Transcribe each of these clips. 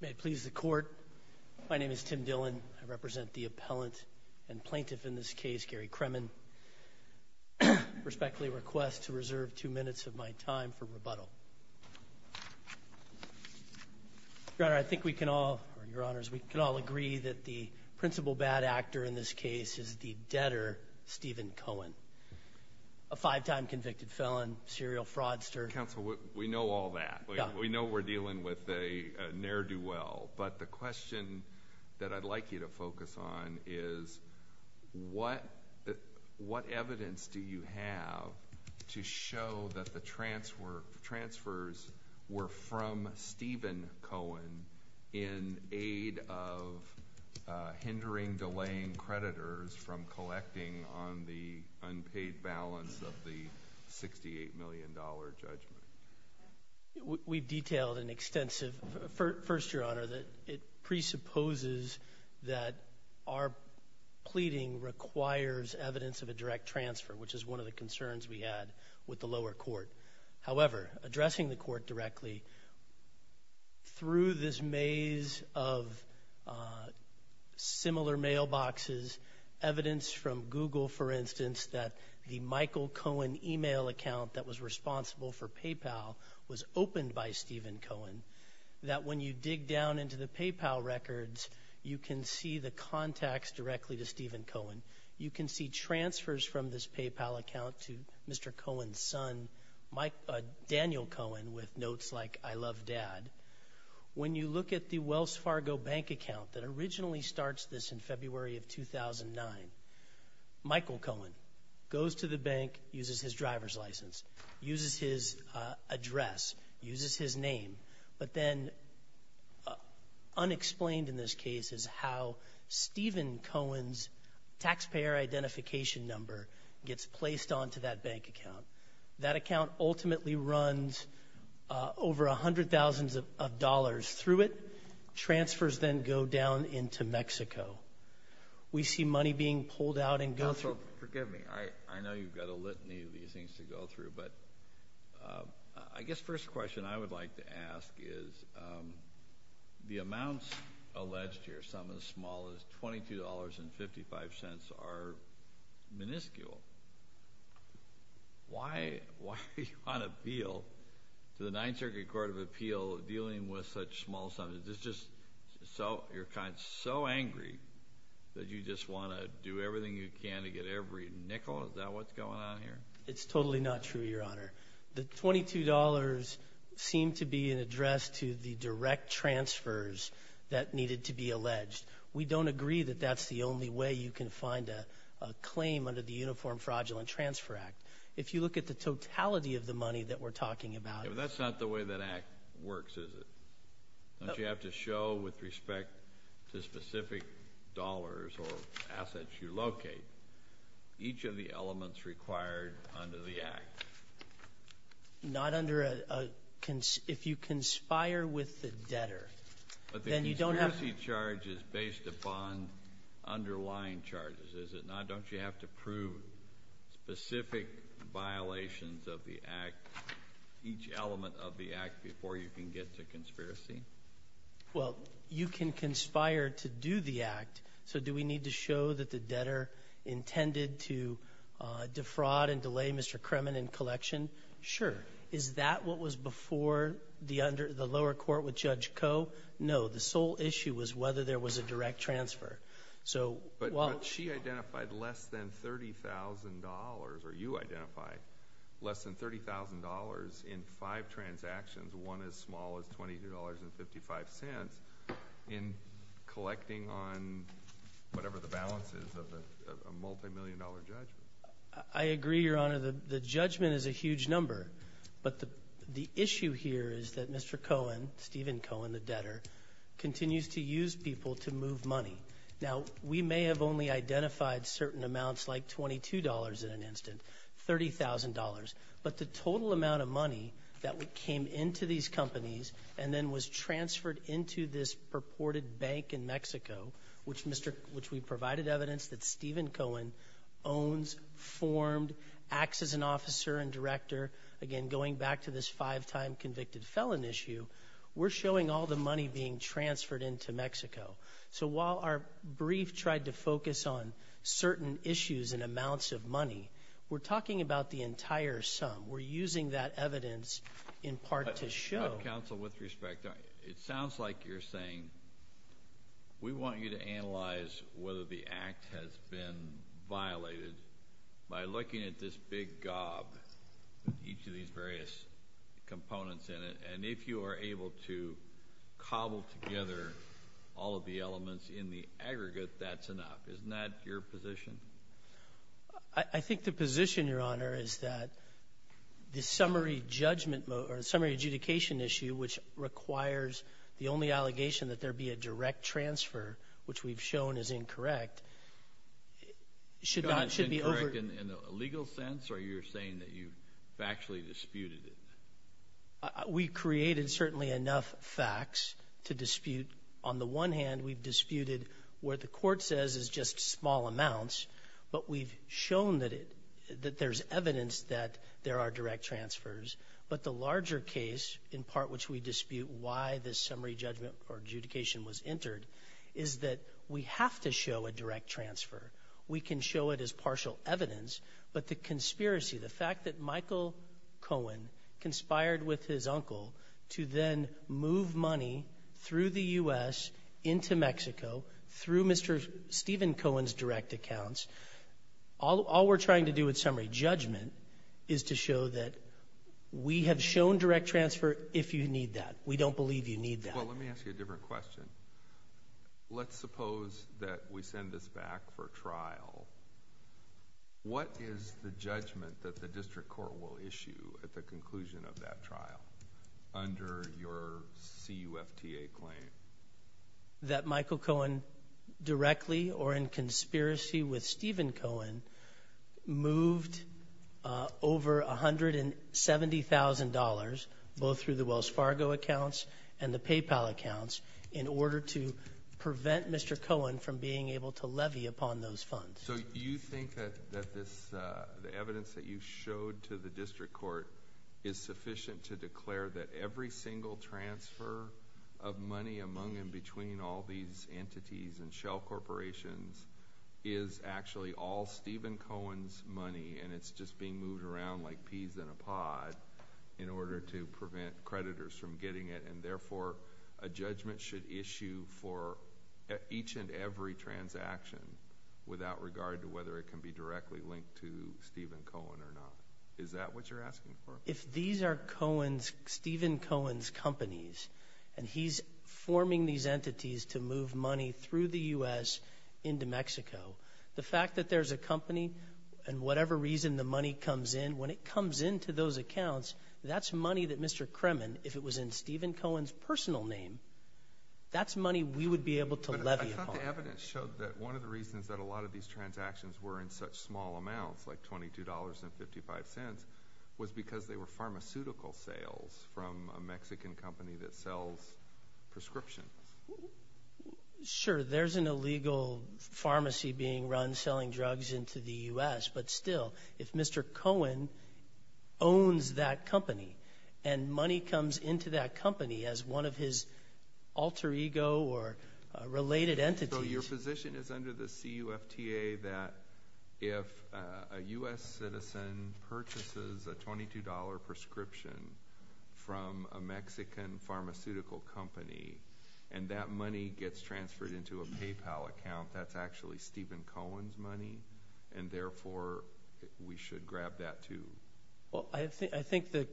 May it please the court. My name is Tim Dillon. I represent the appellant and plaintiff in this case, Gary Kremen. I respectfully request to reserve two minutes of my time for rebuttal. Your Honor, I think we can all, Your Honors, we can all agree that the principal bad actor in this case is the debtor, Stephen Cohen, a five-time convicted felon, serial fraudster. Counsel, we know all that. We know we're dealing with a ne'er-do-well, but the question that I'd like you to focus on is what what evidence do you have to show that the transfer transfers were from Stephen Cohen in aid of hindering, delaying creditors from the transfer? I can tell you in detail and extensive, first, Your Honor, that it presupposes that our pleading requires evidence of a direct transfer, which is one of the concerns we had with the lower court. However, addressing the court directly through this maze of similar mailboxes, evidence from Google, for instance, that the Michael Cohen email account that was responsible for PayPal was opened by Stephen Cohen, that when you dig down into the PayPal records, you can see the contacts directly to Stephen Cohen. You can see transfers from this PayPal account to Mr. Cohen's son, Daniel Cohen, with notes like, I love dad. When you look at the Wells Fargo bank account that originally starts this in February of 2009, Michael Cohen goes to the bank, uses his driver's license, uses his name, but then, unexplained in this case, is how Stephen Cohen's taxpayer identification number gets placed onto that bank account. That account ultimately runs over a hundred thousands of dollars through it. Transfers then go down into Mexico. We see money being pulled out and go through. Forgive me, I know you've got a litany of these things to go through, but I guess first question I would like to ask is, the amounts alleged here, some of the smallest, twenty two dollars and fifty five cents, are miniscule. Why do you want to appeal to the Ninth Circuit Court of Appeal, dealing with such small sums? Is this just so, you're kind of so angry that you just want to do everything you can to get every nickel? Is that what's going on here? It's totally not true, your honor. The twenty two dollars seemed to be an address to the direct transfers that needed to be alleged. We don't agree that that's the only way you can find a claim under the Uniform Fraudulent Transfer Act. If you look at the totality of the money that we're talking about... That's not the way that act works, is it? Don't you have to show, with respect to specific dollars or assets you locate, each of the not under a... if you conspire with the debtor, then you don't have... But the conspiracy charge is based upon underlying charges, is it not? Don't you have to prove specific violations of the act, each element of the act, before you can get to conspiracy? Well, you can conspire to do the act, so do we need to show that the Sure. Is that what was before the lower court with Judge Coe? No. The sole issue was whether there was a direct transfer. But she identified less than thirty thousand dollars, or you identified less than thirty thousand dollars, in five transactions, one as small as twenty two dollars and fifty five cents, in collecting on whatever the balance is of a multimillion dollar judgment. I agree, Your Honor, the judgment is a huge number, but the issue here is that Mr. Cohen, Stephen Cohen, the debtor, continues to use people to move money. Now, we may have only identified certain amounts, like twenty two dollars in an instant, thirty thousand dollars, but the total amount of money that came into these companies and then was transferred into this purported bank in Mexico, which we provided evidence that Stephen Cohen owns, formed, acts as an officer and director, again going back to this five-time convicted felon issue, we're showing all the money being transferred into Mexico. So while our brief tried to focus on certain issues and amounts of money, we're talking about the entire sum. We're using that evidence in part to show. Counsel, with respect, it sounds like you're saying we want you to analyze whether the act has been violated by looking at this big gob, each of these various components in it, and if you are able to cobble together all of the elements in the aggregate, that's enough. Isn't that your position? I think the position, Your Honor, is that the only allegation that there be a direct transfer, which we've shown is incorrect, should not, should be over. In a legal sense, or you're saying that you've factually disputed it? We created certainly enough facts to dispute. On the one hand, we've disputed where the court says is just small amounts, but we've shown that it, that there's evidence that there are direct transfers. But the was entered is that we have to show a direct transfer. We can show it as partial evidence, but the conspiracy, the fact that Michael Cohen conspired with his uncle to then move money through the U.S. into Mexico, through Mr. Stephen Cohen's direct accounts, all we're trying to do with summary judgment is to show that we have shown direct transfer if you need that. We don't believe you need that. Well, let me ask you a different question. Let's suppose that we send this back for trial. What is the judgment that the district court will issue at the conclusion of that trial under your CUFTA claim? That Michael Cohen directly or in conspiracy with Stephen Cohen moved over a hundred and seventy thousand dollars both through the Wells Fargo accounts and the PayPal accounts in order to prevent Mr. Cohen from being able to levy upon those funds. So you think that this evidence that you showed to the district court is sufficient to declare that every single transfer of money among and between all these entities and shell corporations is actually all Stephen Cohen's money and it's just being moved around like peas in a pod in order to prevent creditors from getting it and therefore a judgment should issue for each and every transaction without regard to whether it can be directly linked to Stephen Cohen or not. Is that what you're asking for? If these are Stephen Cohen's companies and he's forming these entities to move money through the U.S. into Mexico, the fact that there's a company and whatever reason the money comes in, when it comes into those accounts, that's money that Mr. Kremen, if it was in Stephen Cohen's personal name, that's money we would be able to levy upon. But I thought the evidence showed that one of the reasons that a lot of these transactions were in such small amounts like twenty two dollars and fifty five cents was because they were pharmaceutical sales from a Mexican company that sells prescriptions. Sure there's an illegal pharmacy being run selling drugs into the U.S. but still if Mr. Cohen owns that company and money comes into that company as one of his alter ego or related entities. So your position is under the CUFTA that if a U.S. citizen purchases a twenty two dollar prescription from a Mexican pharmaceutical company and that money gets transferred into a PayPal account, that's actually Stephen Cohen's money and therefore we should grab that too. Well I think the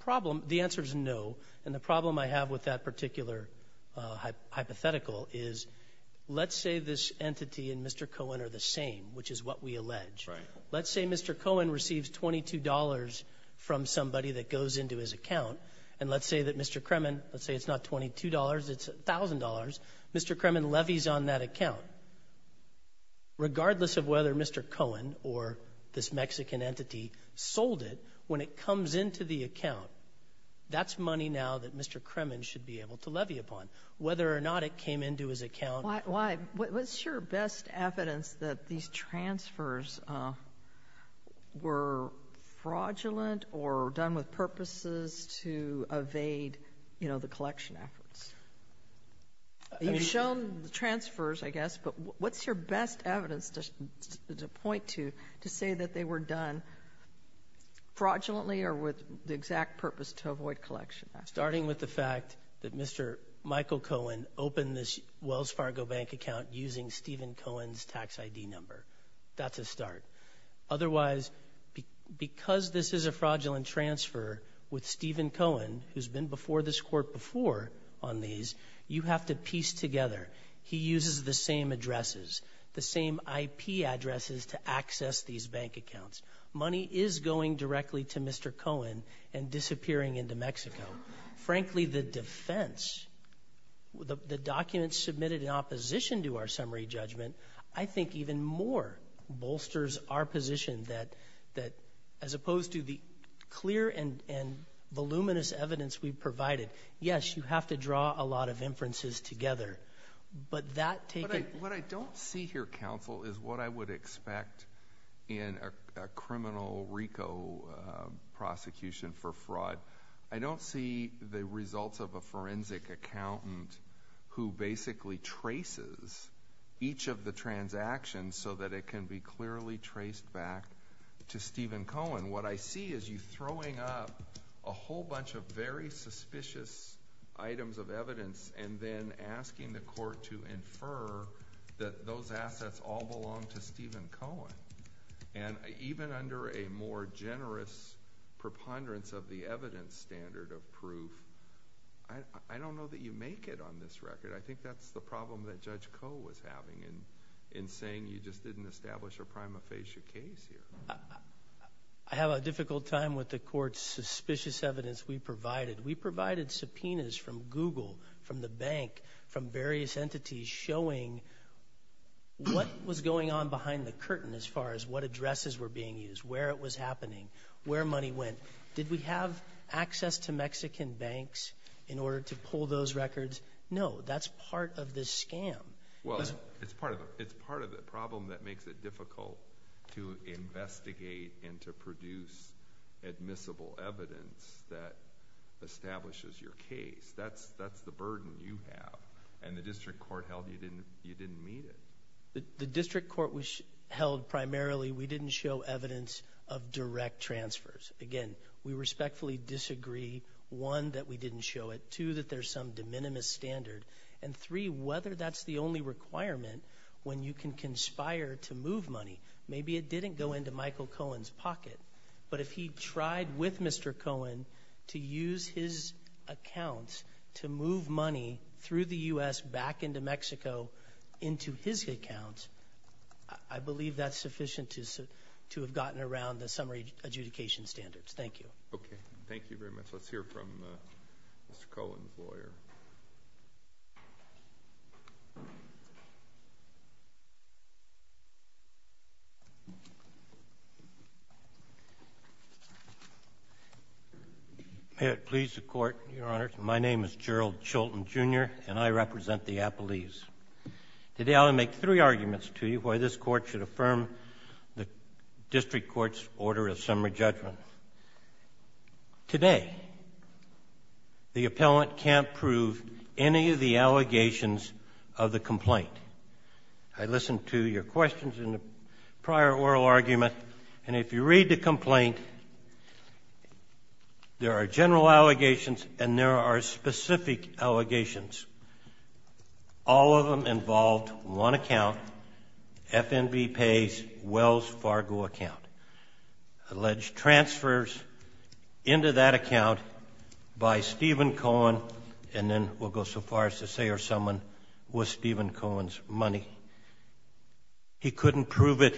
problem, the answer is no, and the problem I have with that particular hypothetical is let's say this entity and Mr. Cohen are the same which is what we allege. Let's say Mr. Cohen receives twenty two dollars from somebody that goes into his account and let's say that Mr. Kremen, let's say it's not twenty two dollars it's a thousand dollars, Mr. Kremen levies on that account regardless of whether Mr. Cohen or this Mexican entity sold it when it comes into the account. That's money now that Mr. Kremen should be able to levy upon whether or not it came into his account. Why, what's your best evidence that these transfers were fraudulent or done with purposes to evade you know the collection efforts? You've shown the transfers I guess but what's your best evidence to point to to say that they were done fraudulently or with the exact purpose to avoid collection? Starting with the fact that Mr. Michael Cohen opened this Wells Fargo bank account using Stephen Cohen's tax ID number. That's a start. Otherwise, because this is a fraudulent transfer with Stephen Cohen who's been before this court before on these, you have to piece together. He uses the same addresses, the same IP addresses to access these bank accounts. Money is going directly to Mr. Cohen and disappearing into Mexico. Frankly, the defense, the documents submitted in opposition to our summary judgment, I think even more bolsters our position that as opposed to the clear and voluminous evidence we provided. Yes, you have to draw a lot of inferences together but that... What I don't see here counsel is what I would expect in a criminal RICO prosecution for fraud. I don't see the results of a forensic accountant who basically traces each of the transactions so that it can be clearly traced back to Stephen Cohen. What I see is you throwing up a whole bunch of very suspicious items of evidence and then asking the court to remove Stephen Cohen. Even under a more generous preponderance of the evidence standard of proof, I don't know that you make it on this record. I think that's the problem that Judge Koh was having in saying you just didn't establish a prima facie case here. I have a difficult time with the court's suspicious evidence we provided. We provided subpoenas from Google, from the bank, from the bank. We didn't find the curtain as far as what addresses were being used, where it was happening, where money went. Did we have access to Mexican banks in order to pull those records? No, that's part of this scam. Well, it's part of it. It's part of the problem that makes it difficult to investigate and to produce admissible evidence that establishes your case. That's the burden you have and the District Court held primarily we didn't show evidence of direct transfers. Again, we respectfully disagree. One, that we didn't show it. Two, that there's some de minimis standard. And three, whether that's the only requirement when you can conspire to move money. Maybe it didn't go into Michael Cohen's pocket, but if he tried with Mr. Cohen to use his accounts to move money through the U.S. back into Mexico into his account, I believe that's sufficient to have gotten around the summary adjudication standards. Thank you. Okay, thank you very much. Let's hear from Mr. Cohen's lawyer. May it please the Court, Your Honor. My name is Gerald Chilton Jr. and I represent the Appellees. Today I'll make three arguments to you why this Court should affirm the District Court's order of summary judgment. Today, the appellant can't prove any of the allegations of the complaint. I listened to your questions in the prior oral argument, and if you read the complaint, there are specific allegations. All of them involved one account, FNB Pay's Wells Fargo account. Alleged transfers into that account by Stephen Cohen, and then we'll go so far as to say it was someone with Stephen Cohen's money. He couldn't prove it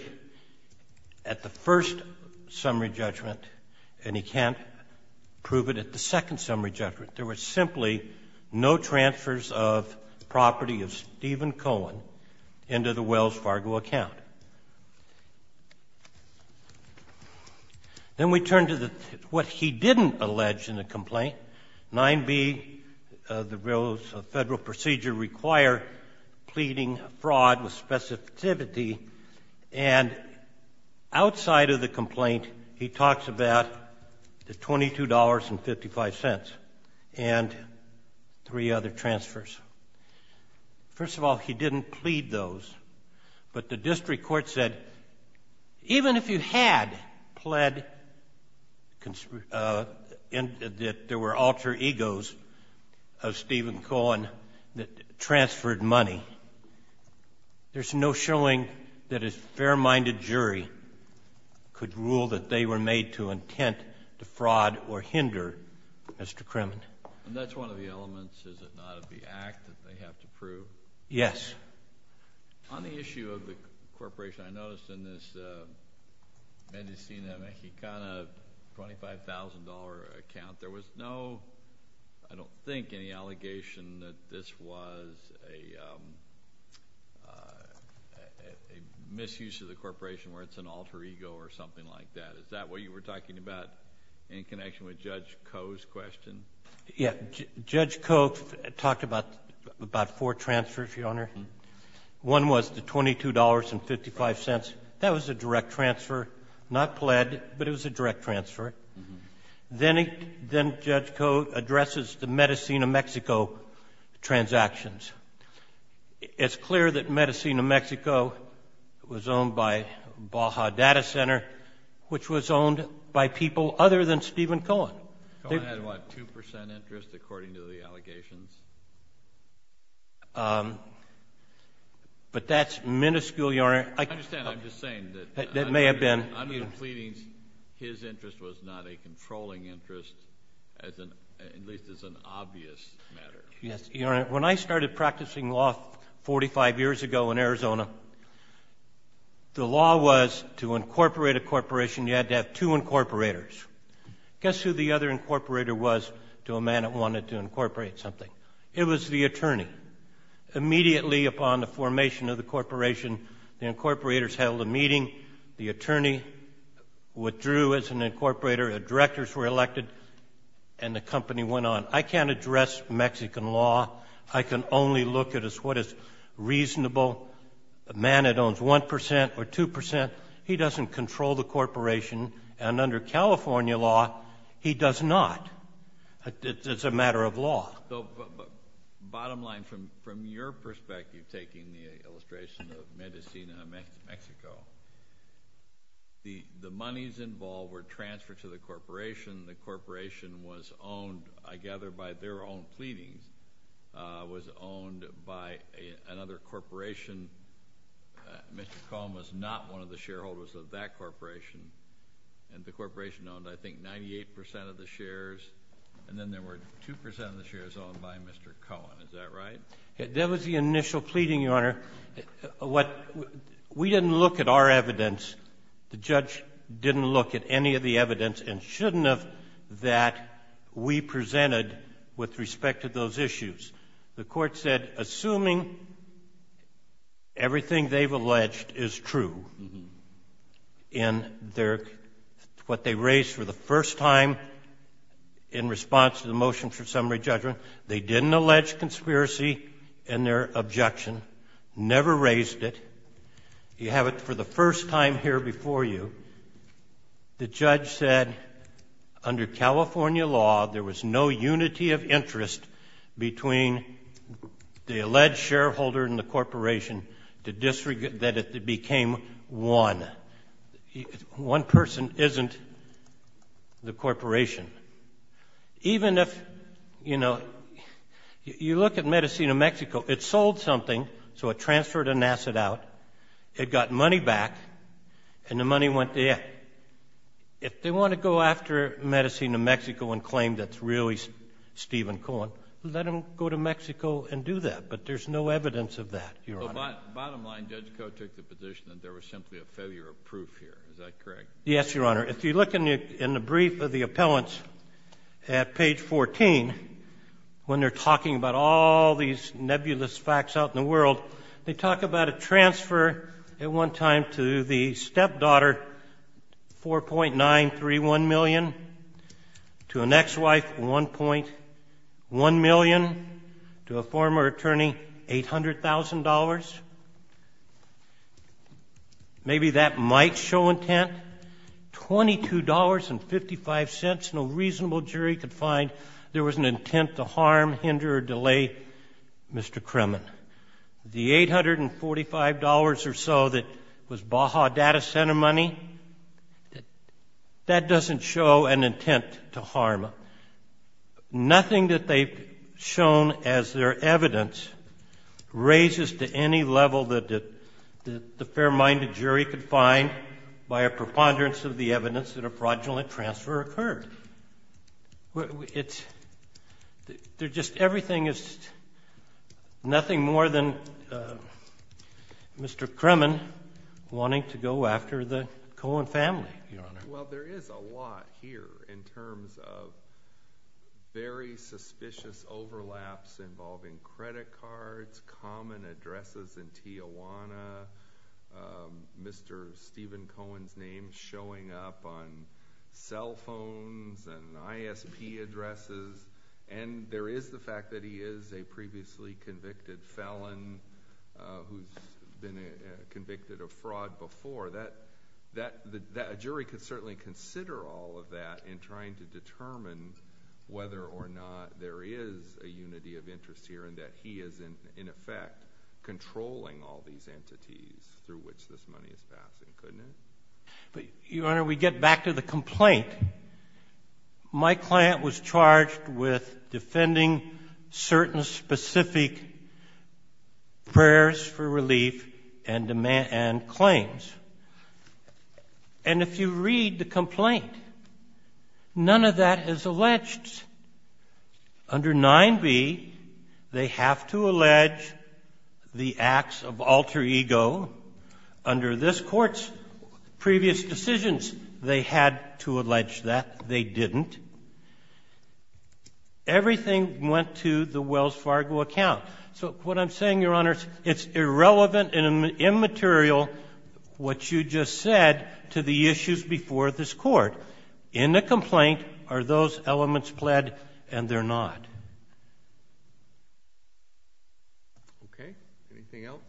at the first summary judgment, and he can't prove it at the second summary judgment. There were simply no transfers of property of Stephen Cohen into the Wells Fargo account. Then we turn to what he didn't allege in the complaint, 9b, the Federal procedure required pleading fraud with specificity, and three other transfers. First of all, he didn't plead those, but the District Court said even if you had pled that there were alter egos of Stephen Cohen that transferred money, there's no showing that a fair-minded jury could rule that they were made to intent to fraud or hinder, Mr. Kremen. And that's one of the elements, is it not, of the act that they have to prove? Yes. On the issue of the corporation, I noticed in this Mendocino Mexicana $25,000 account, there was no, I don't think, any allegation that this was a misuse of the corporation where it's an alter ego or something like that. Is that what you were talking about in connection with Judge Koh's question? Yeah. Judge Koh talked about about four transfers, Your Honor. One was the $22.55. That was a direct transfer, not pled, but it was a direct transfer. Then Judge Koh addresses the Mendocino, Mexico transactions. It's clear that Mendocino, Mexico was owned by Baja Data Center, which was owned by people other than Stephen Cohen. Cohen had, what, 2% interest according to the allegations? But that's minuscule, Your Honor. I understand, I'm just saying. That may have been. I'm just pleading his interest was not a controlling interest, at least as an obvious matter. Yes, Your Honor. When I started practicing law 45 years ago in Arizona, the law was to incorporate a corporation, you had to have two incorporators. Guess who the other incorporator was to a man that wanted to incorporate something? It was the attorney. Immediately upon the formation of the corporation, the incorporators held a meeting, the attorney withdrew as an incorporator, the directors were elected, and the company went on. I can't address Mexican law, I can only look at what is reasonable. A man that owns 1% or 2%, he doesn't control the corporation, and under California law, he does not. It's a matter of law. Bottom line, from your perspective, taking the illustration of Mendocino, Mexico, the monies involved were transferred to the corporation, the corporation was owned, I gather, by their own pleadings, was owned by another corporation. Mr. Cohen was not one of the shareholders of that corporation, and the corporation owned, I think, 98% of the shares, and then there were 2% of the shares owned by Mr. Cohen. Is that right? That was the initial pleading, Your Honor. We didn't look at our evidence, the judge didn't look at any of the evidence, and shouldn't have, that we presented with respect to those issues. The Court said, assuming everything they've alleged is true in their, what they raised for the first time in response to the motion for summary judgment, they didn't allege conspiracy in their objection, never raised it, you have it for the first time here before you, the judge said, under California law, there was no unity of interest between the alleged shareholder and the corporation, that it became one. One person isn't the corporation. Even if, you know, you look at Mendocino, Mexico, it sold something, so it transferred an asset out, it got money back, and the money went there. If they want to go after Mendocino, Mexico, and claim that it's really Stephen Cohen, let them go to Mexico and do that, but there's no evidence of that, Your Honor. Bottom line, Judge Coe took the position that there was simply a failure of proof here, is that correct? Yes, Your Honor. If you look in the brief of the appellants at page 14, when they're talking about all these nebulous facts out in the world, they talk about a transfer at one time to the stepdaughter, $4.931 million, to an ex-wife, $1.1 million, to a former attorney, $800,000. Maybe that might show intent. $22.55, no reasonable jury could find there was an integer delay, Mr. Kremen. The $845 or so that was Baja data center money, that doesn't show an intent to harm. Nothing that they've shown as their evidence raises to any level that the fair-minded jury could find by a preponderance of the evidence that a fraudulent transfer occurred. Everything is nothing more than Mr. Kremen wanting to go after the Cohen family, Your Honor. Well, there is a lot here in terms of very suspicious overlaps involving credit cards, common addresses in Tijuana, Mr. Stephen Cohen's name showing up on cell phones and ISP addresses, and there is the fact that he is a previously convicted felon who's been convicted of fraud before. A jury could certainly consider all of that in trying to determine whether or not there is a unity of interest here and that he is, in effect, controlling all these entities through which this money is passing, couldn't it? Your Honor, we get back to the complaint. My client was charged with defending certain specific prayers for relief and claims. And if you read the complaint, none of that is alleged. Under 9b, they have to allege the acts of alter ego. Under this Court's previous decisions, they had to allege that. They didn't. Everything went to the Wells Fargo account. So what I'm saying, Your Honor, it's irrelevant and immaterial what you just said to the issues before this Court. In the complaint, are those elements pled and they're not? Okay. Anything else?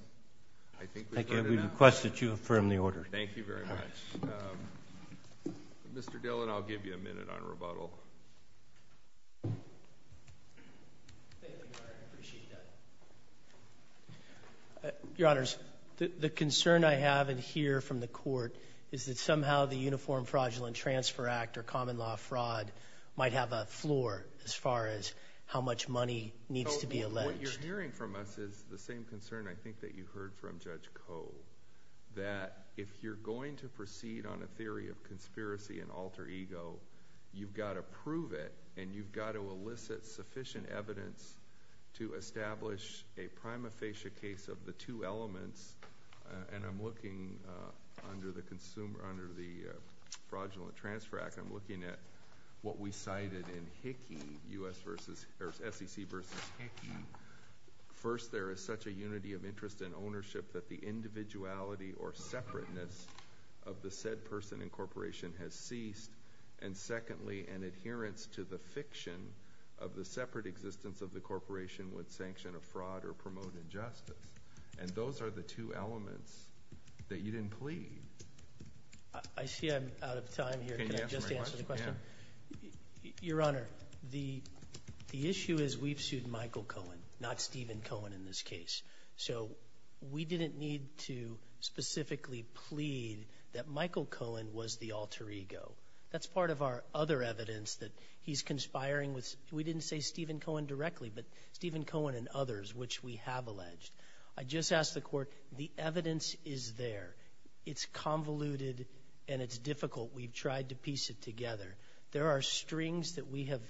I think we've heard enough. Thank you. We request that you affirm the order. Thank you very much. Mr. Dillon, I'll give you a minute on rebuttal. Thank you, Your Honor. I appreciate that. Your Honors, the concern I have and hear from the Court is that somehow the Uniform Fraudulent Transfer Act or common law fraud might have a floor as far as how much money needs to be alleged. What you're hearing from us is the same concern, I think, that you heard from Judge Coe, that if you're going to proceed on a theory of conspiracy and alter ego, you've got to prove it and you've got to elicit sufficient evidence to establish a prima facie case of the two under the Fraudulent Transfer Act. I'm looking at what we cited in Hickey, SEC v. Hickey. First there is such a unity of interest and ownership that the individuality or separateness of the said person and corporation has ceased. And secondly, an adherence to the fiction of the separate existence of the corporation would sanction a fraud or promote injustice. And those are the two elements that you didn't plead. I see I'm out of time here. Can I just answer the question? Your Honor, the issue is we've sued Michael Cohen, not Stephen Cohen in this case. So we didn't need to specifically plead that Michael Cohen was the alter ego. That's part of our other evidence that he's conspiring with, we didn't say Stephen Cohen directly, but Stephen Cohen and others, which we have alleged. I just asked the court, the evidence is there. It's convoluted and it's difficult. We've tried to piece it together. There are strings that we have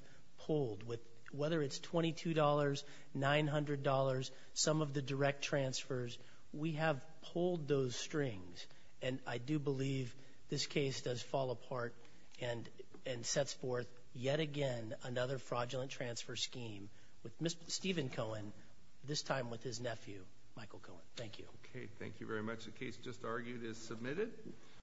pulled with, whether it's $22, $900, some of the direct transfers, we have pulled those strings. And I do believe this case does fall apart and sets forth yet again another fraudulent transfer scheme with Stephen Cohen, this time with his nephew, Michael Cohen. Thank you. Okay, thank you very much. The case just argued is submitted.